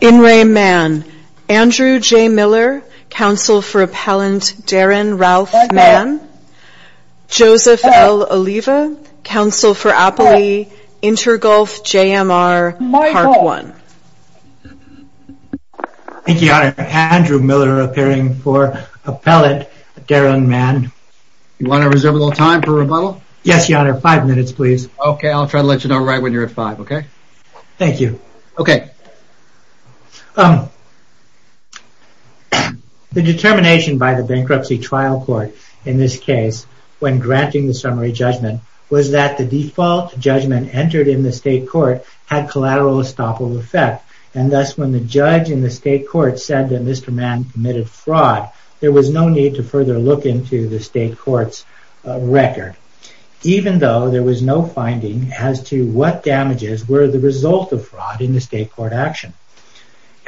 In re Mann. Andrew J. Miller, counsel for appellant Darren Ralph Mann. Joseph L. Oliva, counsel for appellee Intergulf JMR Park One. Thank you, Your Honor. Andrew Miller appearing for appellant Darren Mann. You want to reserve a little time for rebuttal? Yes, Your Honor. Five minutes, please. Okay, I'll try to let you know right when you're at five, okay? Thank you. Okay. The determination by the Bankruptcy Trial Court in this case when granting the summary judgment was that the default judgment entered in the state court had collateral estoppel effect and thus when the judge in the state court said that Mr. Mann committed fraud there was no need to further look into the state court's record even though there was no finding as to what damages were the result of fraud in the state court action.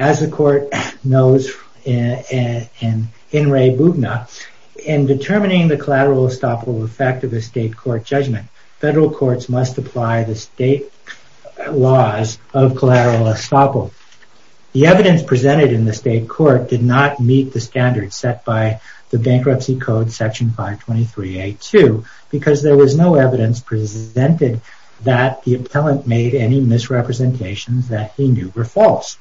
As the court knows in re. In determining the collateral estoppel effect of the state court judgment, federal courts must apply the state laws of collateral estoppel. The evidence presented in the state court did not meet the standards set by the Bankruptcy Code Section 523A2 because there was no evidence presented that the appellant made any misrepresentations that he knew were false.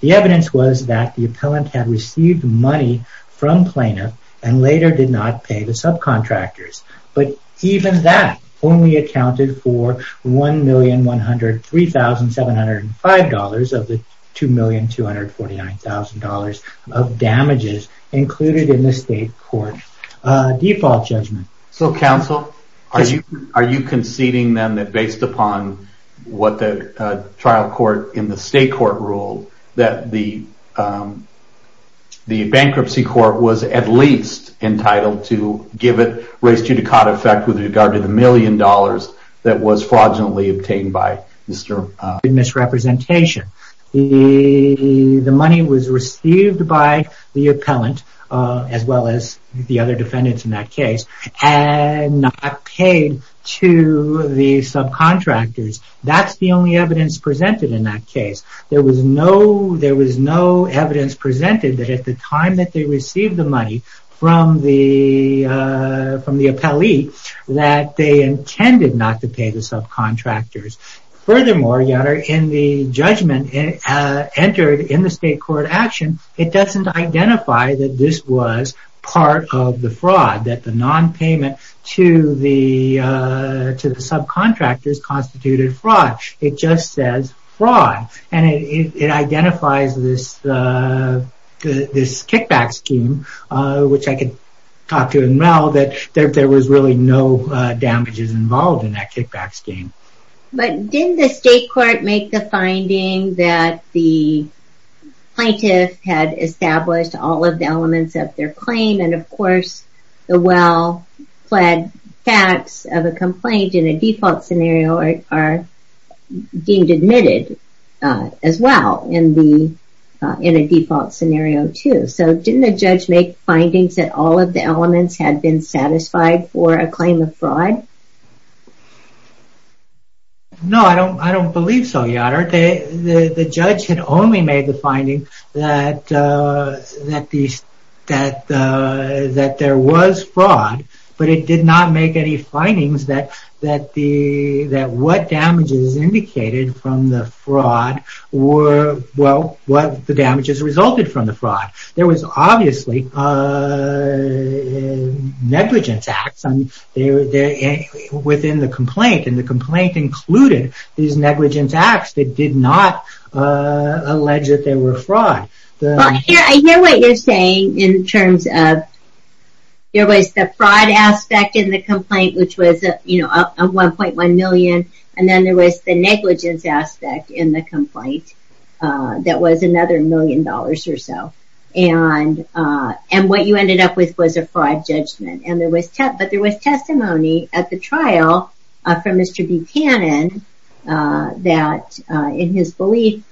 The evidence was that the appellant had received money from plaintiff and later did not pay the subcontractors but even that only accounted for $1,103,705 of the $2,249,000 of damages included in the state court default judgment. So counsel are you are you conceding then that based upon what the trial court in the state court ruled that the the bankruptcy court was at least entitled to give it raise to the cot effect with regard to the million dollars that was fraudulently obtained by misrepresentation? The money was received by the appellant as well as the other defendants in that case and not paid to the subcontractors. That's the only evidence presented in that case. There was no there was no evidence presented that at the time that they received the money from the from the subcontractors. Furthermore, in the judgment entered in the state court action it doesn't identify that this was part of the fraud that the non-payment to the to the subcontractors constituted fraud. It just says fraud and it identifies this this kickback scheme which I could talk to and know that there was really no damages involved in that kickback scheme. But didn't the state court make the finding that the plaintiff had established all of the elements of their claim and of course the well-fled facts of a complaint in a default scenario are deemed admitted as well in the in a default scenario too. So didn't the judge make findings that all of the elements had been satisfied for a claim of fraud? No I don't I don't believe so your honor. The judge had only made the finding that that these that that there was fraud but it did not make any findings that that the that what damages indicated from the fraud were well what the damages resulted from the fraud. There was obviously a negligence acts and they were there within the complaint and the complaint included these negligence acts that did not allege that they were fraud. I hear what you're saying in terms of there was the fraud aspect in the complaint which was a you know a 1.1 million and then there was the negligence aspect in the that was another million dollars or so and and what you ended up with was a fraud judgment and there was test but there was testimony at the trial from Mr. Buchanan that in his belief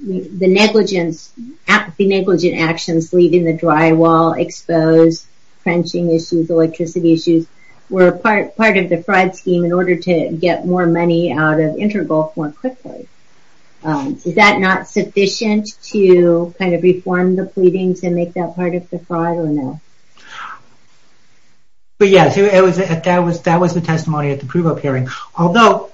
the negligence at the negligent actions leaving the drywall exposed, frenching issues, electricity issues were a part part of the fraud scheme in order to get more money out of Intergolf more sufficient to kind of reform the pleadings and make that part of the fraud or no? But yes it was that was that was the testimony at the approval hearing although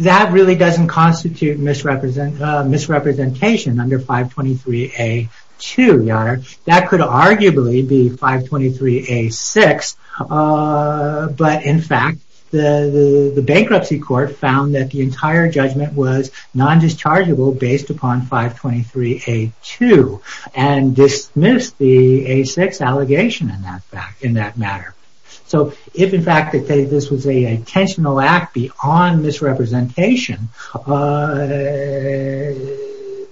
that really doesn't constitute misrepresent misrepresentation under 523A2 your honor that could arguably be 523A6 but in fact the the bankruptcy court found that the entire judgment was non-dischargeable based upon 523A2 and dismissed the A6 allegation in that matter. So if in fact that this was a intentional act beyond misrepresentation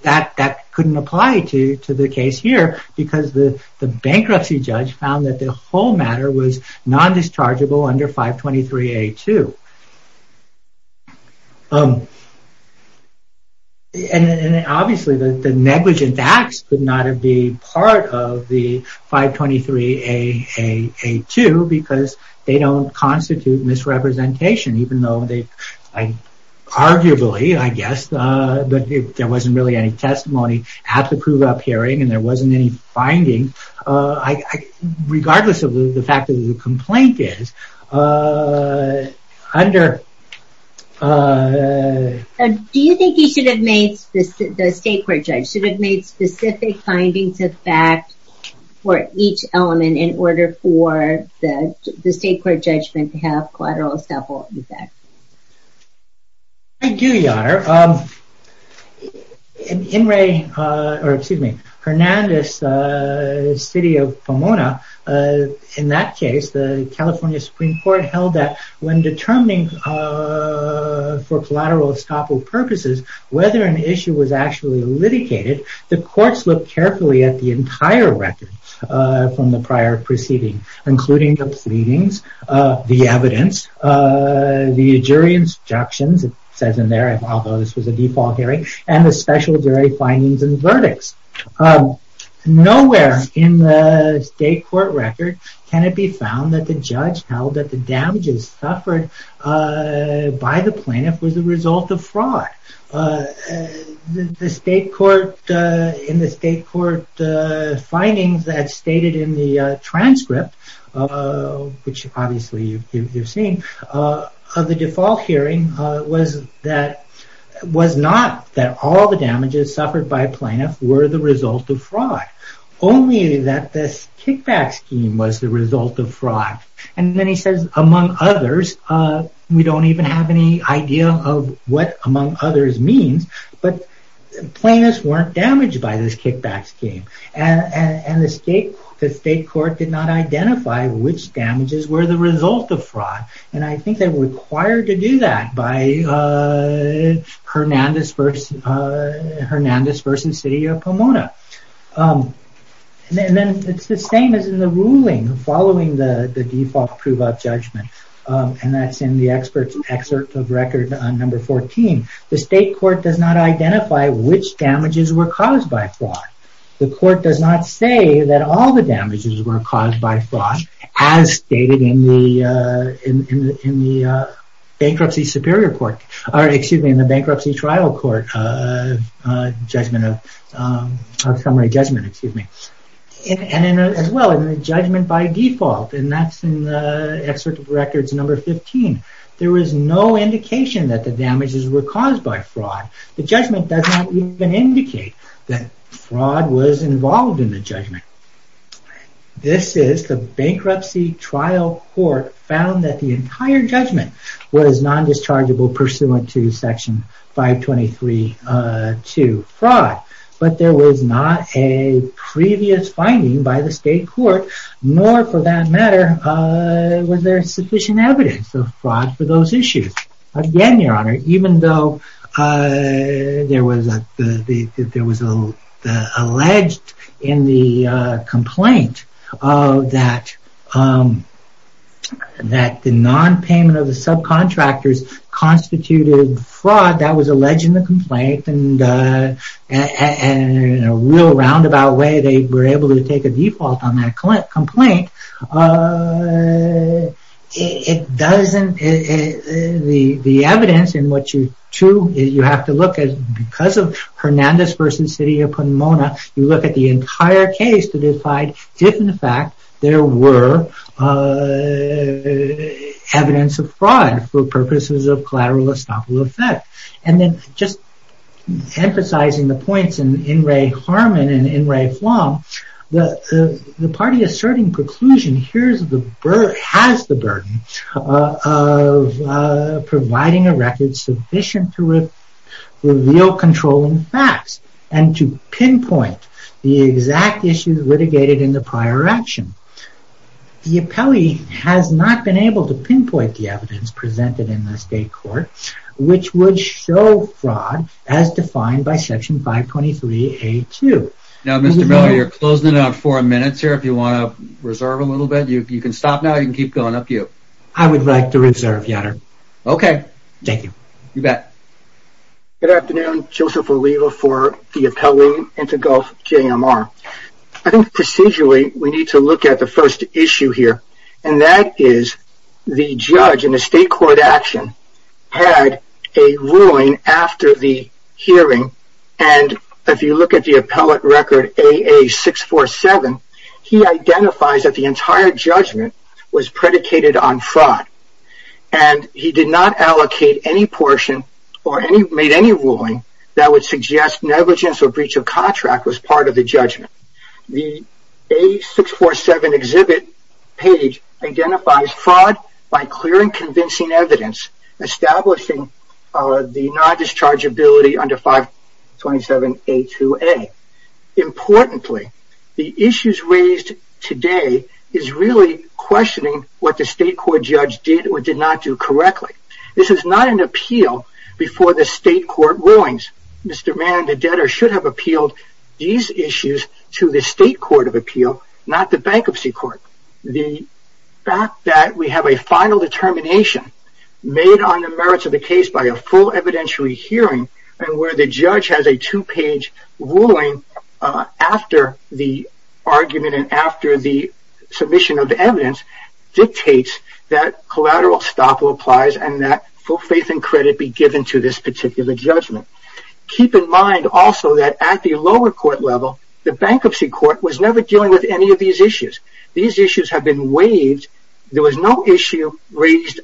that that couldn't apply to to the case here because the bankruptcy judge found that the whole matter was non-dischargeable under 523A2. And obviously the negligent acts could not be part of the 523A2 because they don't constitute misrepresentation even though they arguably I guess that there wasn't really any testimony at the approval hearing and there wasn't any finding I regardless of the fact that the complaint is under. Do you think he should have made the state court judge should have made specific findings of fact for each element in order for the state court judgment to have collateral estoppel effect? I do your honor. In Ray or excuse me Hernandez City of Pomona in that case the California Supreme Court held that when determining for collateral estoppel purposes whether an issue was actually litigated the courts look carefully at the entire record from the prior proceeding including the evidence the jury instructions it says in there and although this was a default hearing and the special jury findings and verdicts. Nowhere in the state court record can it be found that the judge held that the damages suffered by the plaintiff was a result of fraud. The state court in the state court findings that stated in the transcript which obviously you've seen of the default hearing was that was not that all the damages suffered by plaintiff were the result of fraud only that this kickback scheme was the result of fraud and then he says among others we don't even have any idea of what among others means but plaintiffs weren't damaged by this kickback scheme and the state the state court did not identify which damages were the result of fraud and I think they were required to do that by Hernandez versus City of Pomona and then it's the same as in the ruling following the the default prove-up judgment and that's in the experts excerpt of record on number 14 the state court does not identify which damages were caused by fraud the court does not say that all the damages were caused by fraud as stated in the bankruptcy superior court or excuse me in the bankruptcy trial court judgment of summary judgment excuse me and as well in the judgment by default and that's in the excerpt of records number 15 there was no indication that the damages were caused by fraud the judgment does not even indicate that fraud was involved in the judgment this is the bankruptcy trial court found that the entire judgment was non-dischargeable pursuant to section 523 to fraud but there was not a previous finding by the state court nor for that matter was there sufficient evidence of fraud for those issues again your honor even though there was a there was a alleged in the complaint of that that the non-payment of the subcontractors constituted fraud that was alleged in the complaint and in a roundabout way they were able to take a default on that complaint it doesn't the the evidence in what you to you have to look at because of Hernandez versus city upon Mona you look at the entire case to decide if in fact there were evidence of fraud for purposes of collateral estoppel effect and then just emphasizing the points in in Ray Harmon and in Ray Flom the the party asserting preclusion here's the bird has the burden of providing a record sufficient to reveal controlling facts and to pinpoint the exact issues litigated in the prior action the appellee has not been able to pinpoint the evidence presented in the state court which would show fraud as defined by section 523 a to know you're closing in on four minutes here if you want to reserve a little bit you can stop now you can keep going up you I would like to reserve your honor okay thank you good afternoon Joseph or we were for the appellee into Gulf JMR I think procedurally we need to look at the first issue here and that is the judge in the state court action had a ruling after the hearing and if you look at the appellate record a 647 he identifies that the entire judgment was predicated on fraud and he did not allocate any portion or any made any ruling that would suggest negligence or breach of contract was part of the judgment the a 647 exhibit page identifies fraud by clearing convincing evidence establishing the non-discharge ability under 527 a to a importantly the issues raised today is really questioning what the state court judge did or did not do correctly this is not an appeal before the state court rulings Mr. Mann the state court of appeal not the bankruptcy court the fact that we have a final determination made on the merits of the case by a full evidentiary hearing and where the judge has a two-page ruling after the argument and after the submission of evidence dictates that collateral stop applies and that full faith and credit be given to this particular judgment keep in mind also that at the lower court level the bankruptcy court was never dealing with any of these issues these issues have been waived there was no issue raised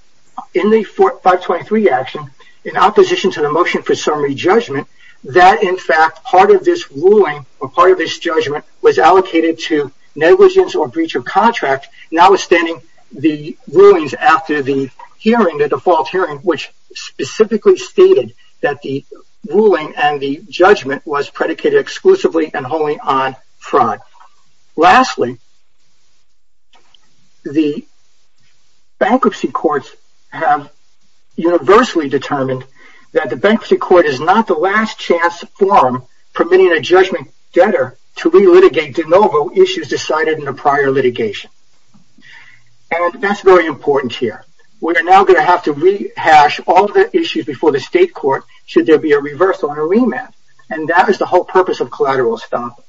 in the 423 action in opposition to the motion for summary judgment that in fact part of this ruling or part of this judgment was allocated to negligence or breach of contract notwithstanding the rulings after the hearing the default hearing which specifically stated that the ruling and the judgment was predicated exclusively and wholly on fraud lastly the bankruptcy courts have universally determined that the bankruptcy court is not the last chance forum permitting a judgment debtor to relitigate de novo issues decided in a prior litigation and that's very important here we're now going to have to rehash all the issues before the state court should there be a reversal in a remand and that is the whole purpose of collateral stop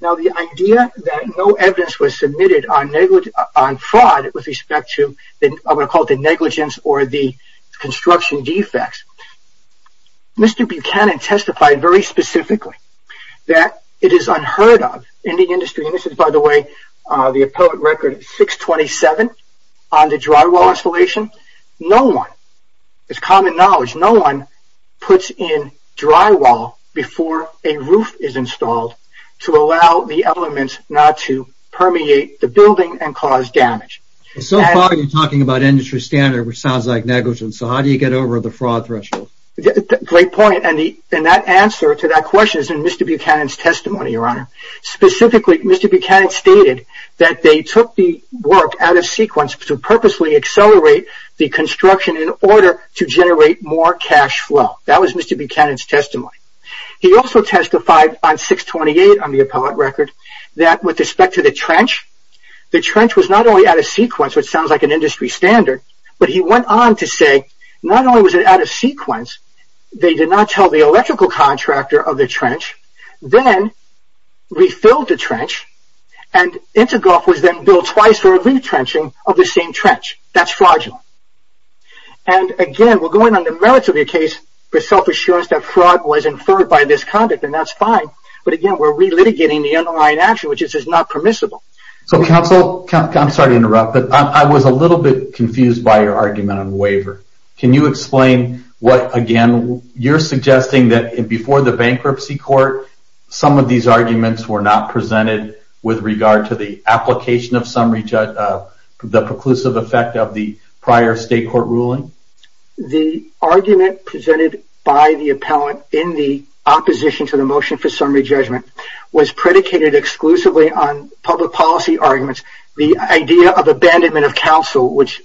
now the idea that no evidence was submitted on negligent on fraud with respect to then I'm going to call the negligence or the construction defects mr. Buchanan testified very specifically that it is unheard of in the industry and this is by the way the record 627 on the drywall installation no one it's common knowledge no one puts in drywall before a roof is installed to allow the elements not to permeate the building and cause damage so far you're talking about industry standard which sounds like negligence so how do you get over the fraud threshold great point and the and that answer to that question is in Buchanan's testimony your honor specifically mr. Buchanan stated that they took the work out of sequence to purposely accelerate the construction in order to generate more cash flow that was mr. Buchanan's testimony he also testified on 628 on the appellate record that with respect to the trench the trench was not only out of sequence which sounds like an industry standard but he went on to say not only was it out of sequence they did not tell the then refilled the trench and it took off was then built twice for a retrenching of the same trench that's fraudulent and again we're going on the merits of your case for self-assurance that fraud was inferred by this conduct and that's fine but again we're re-litigating the underlying action which is not permissible so counsel I'm sorry to interrupt but I was a little bit confused by your argument on waiver can you explain what again you're suggesting that in before the bankruptcy court some of these arguments were not presented with regard to the application of summary judge the preclusive effect of the prior state court ruling the argument presented by the appellant in the opposition to the motion for summary judgment was predicated exclusively on public policy arguments the idea of abandonment of counsel which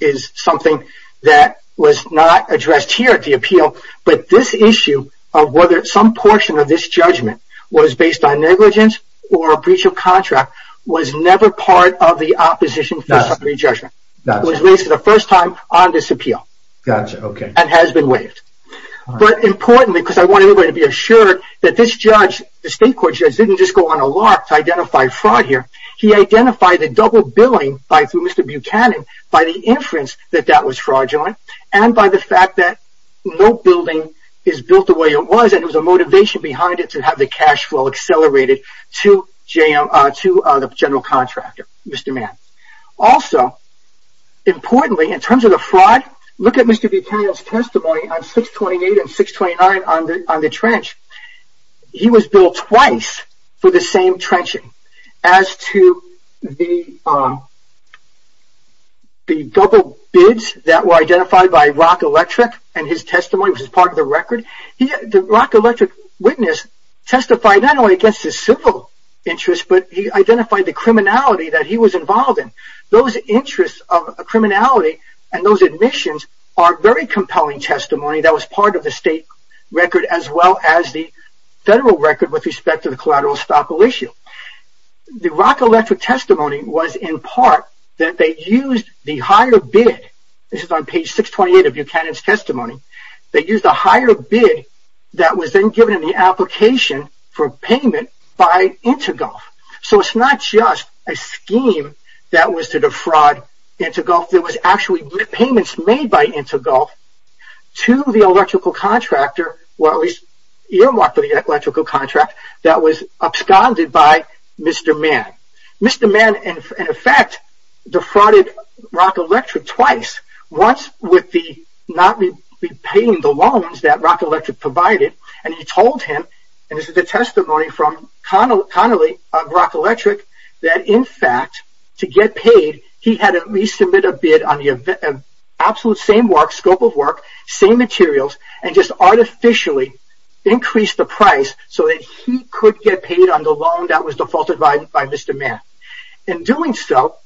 is something that was not addressed here at the appeal but this issue of whether some portion of this judgment was based on negligence or a breach of contract was never part of the opposition summary judgment that was raised for the first time on this appeal that's okay and has been waived but importantly because I want everybody to be assured that this judge the state court judge didn't just go on a lark to identify fraud here he identified the double billing by through Mr. Buchanan by the inference that that was fraudulent and by the fact that no building is built the way it was and it was a motivation behind it to have the cash flow accelerated to the general contractor Mr. Mann also importantly in terms of the fraud look at Mr. Buchanan's testimony on 628 and the double bids that were identified by Rock Electric and his testimony which is part of the record he the Rock Electric witness testified not only against his civil interest but he identified the criminality that he was involved in those interests of a criminality and those admissions are very compelling testimony that was part of the state record as well as the federal record with respect to the collateral estoppel issue the Rock Electric testimony was in part that they used the higher bid this is on page 628 of Buchanan's testimony they used a higher bid that was then given in the application for payment by Intergolf so it's not just a scheme that was to defraud Intergolf there was actually payments made by Intergolf to the electrical contractor well he's earmarked for the electrical contract that was absconded by Mr. Mann. Mr. Mann in effect defrauded Rock Electric twice once with the not repaying the loans that Rock Electric provided and he told him and this is the testimony from Connolly of Rock Electric that in fact to get paid he had to resubmit a bid on the absolute same work scope of work same materials and just artificially increase the price so that he could get paid on the loan that was defaulted by Mr. Mann in doing so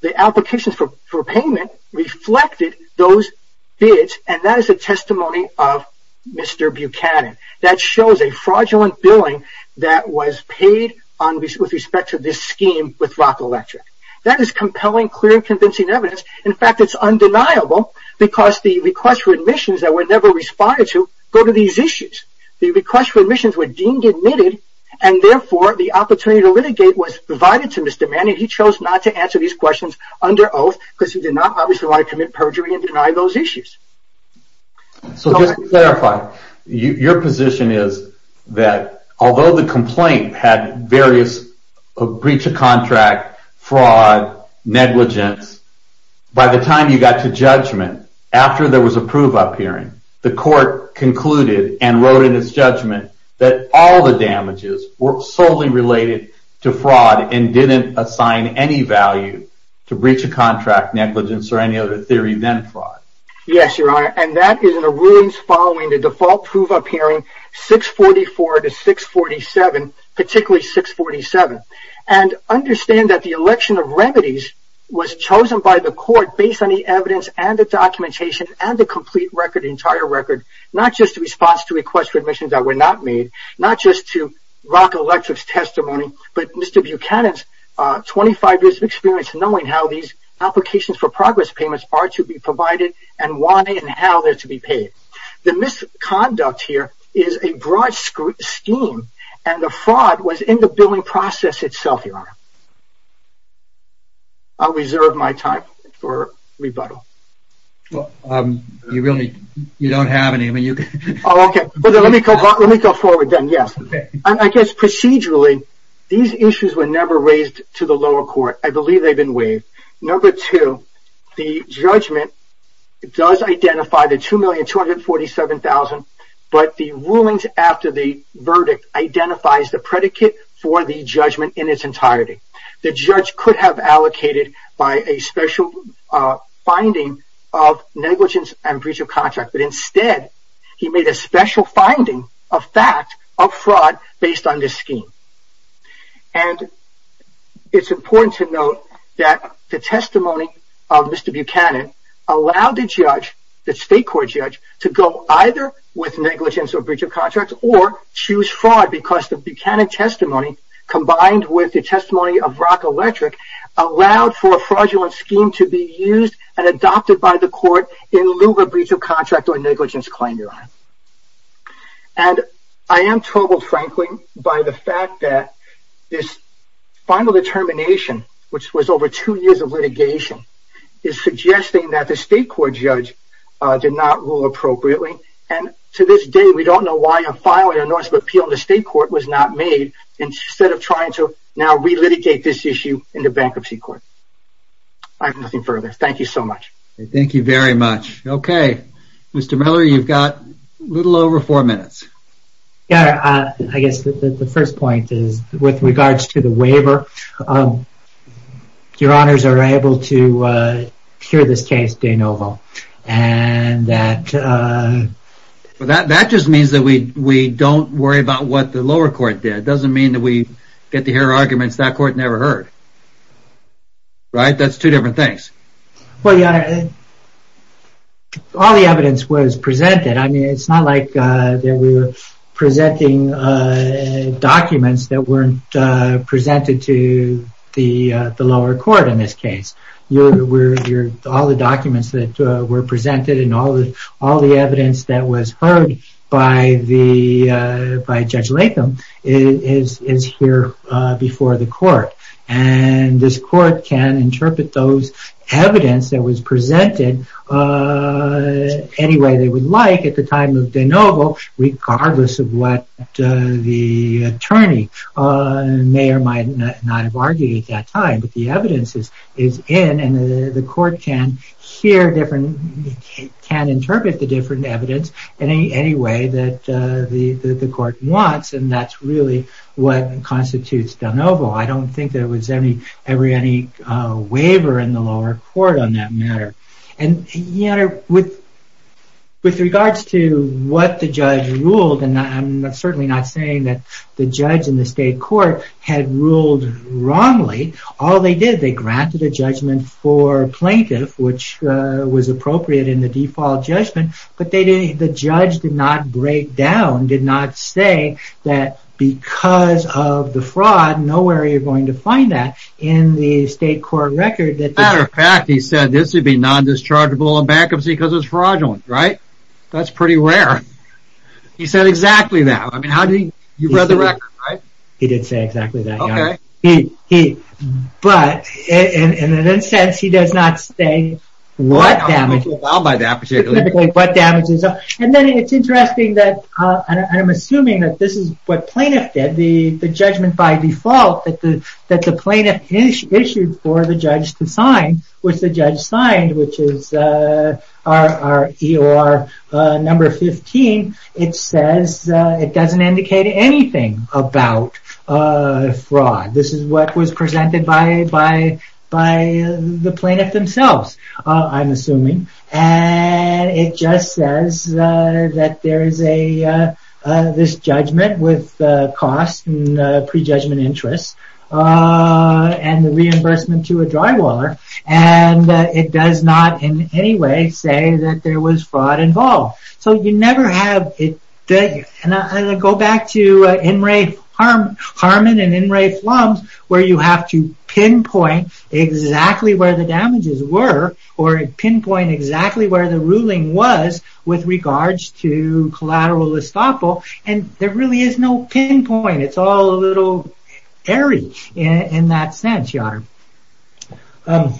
the applications for payment reflected those bids and that is a testimony of Mr. Buchanan that shows a fraudulent billing that was paid on with respect to this scheme with Rock Electric that is compelling clear convincing evidence in fact it's undeniable because the request for admissions that were never responded to go to these issues the request for litigate was provided to Mr. Mann and he chose not to answer these questions under oath because he did not obviously want to commit perjury and deny those issues. So just to clarify your position is that although the complaint had various breach of contract fraud negligence by the time you got to judgment after there was a prove-up hearing the court concluded and wrote in its judgment that all the damages were solely related to fraud and didn't assign any value to breach of contract negligence or any other theory than fraud. Yes your honor and that is in the rulings following the default prove-up hearing 644 to 647 particularly 647 and understand that the election of remedies was chosen by the court based on the evidence and the documentation and the request for admissions that were not made not just to Rock Electric's testimony but Mr. Buchanan's 25 years of experience knowing how these applications for progress payments are to be provided and why and how they're to be paid. The misconduct here is a broad scheme and the fraud was in the billing process itself your honor. I'll reserve my time for rebuttal. Well you really you don't have any. Okay let me go forward then yes I guess procedurally these issues were never raised to the lower court I believe they've been waived. Number two the judgment it does identify the two million two hundred forty seven thousand but the rulings after the verdict identifies the predicate for the judgment in its entirety. The judge could have allocated by a special finding of negligence and breach of contract but instead he made a special finding of fact of fraud based on this scheme and it's important to note that the testimony of Mr. Buchanan allowed the judge the state court judge to go either with negligence or breach of contract or choose fraud because the Buchanan testimony combined with the testimony of Brock Electric allowed for a fraudulent scheme to be used and adopted by the court in lieu of a breach of contract or negligence claim your honor. And I am troubled frankly by the fact that this final determination which was over two years of litigation is suggesting that the state court judge did not rule appropriately and to this day we don't know why a filing or notice of appeal in of trying to now relitigate this issue in the bankruptcy court. I have nothing further thank you so much. Thank you very much. Okay Mr. Miller you've got a little over four minutes. Yeah I guess the first point is with regards to the waiver your honors are able to hear this case de novo and that. That just means that we don't worry about what the lower court did. It doesn't mean that we get to hear arguments that court never heard. Right? That's two different things. Well yeah all the evidence was presented. I mean it's not like that we were presenting documents that weren't presented to the the lower court in this case. You were all the documents that were presented and all the all the evidence that was heard by the by Judge Latham is here before the court and this court can interpret those evidence that was presented any way they would like at the time of de novo regardless of what the attorney may or might not have argued at that time but the evidence is in and the court can hear different can interpret the different evidence in any way that the court wants and that's really what constitutes de novo. I don't think there was any ever any waiver in the lower court on that matter and you know with with regards to what the judge ruled and I'm certainly not saying that the judge in the state court had ruled wrongly. All they did they granted a judgment for plaintiff which was appropriate in the default judgment but they didn't the judge did not break down did not say that because of the fraud nowhere you're going to find that in the state court record. As a matter of fact he said this would be non-dischargeable in bankruptcy because it's fraudulent. Right? That's pretty rare. He said exactly that. I mean how do you read the record right? He did say exactly that. Okay. But in a sense he does not say what damage. And then it's interesting that I'm assuming that this is what plaintiff did the the judgment by default that the that the plaintiff issued for the judge to sign which the judge signed which is our EOR number 15 it says it doesn't indicate anything about fraud. This is what was presented by the plaintiff themselves I'm assuming and it just says that there is a this judgment with cost and prejudgment interest and the reimbursement to a drywaller and it does not in any way say that there was fraud involved. So you never have it and I go back to In re Harmon and In re Flums where you have to pinpoint exactly where the damages were or pinpoint exactly where the ruling was with regards to collateral estoppel and there really is no pinpoint. It's all a little airy in that sense your honor.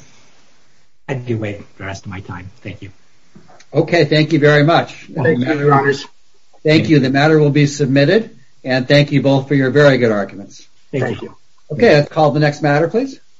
I do wait the rest of my time. Thank you. Okay. Thank you very much. Thank you. The matter will be submitted and thank you both for your very good arguments. Thank you. Okay call the next matter please.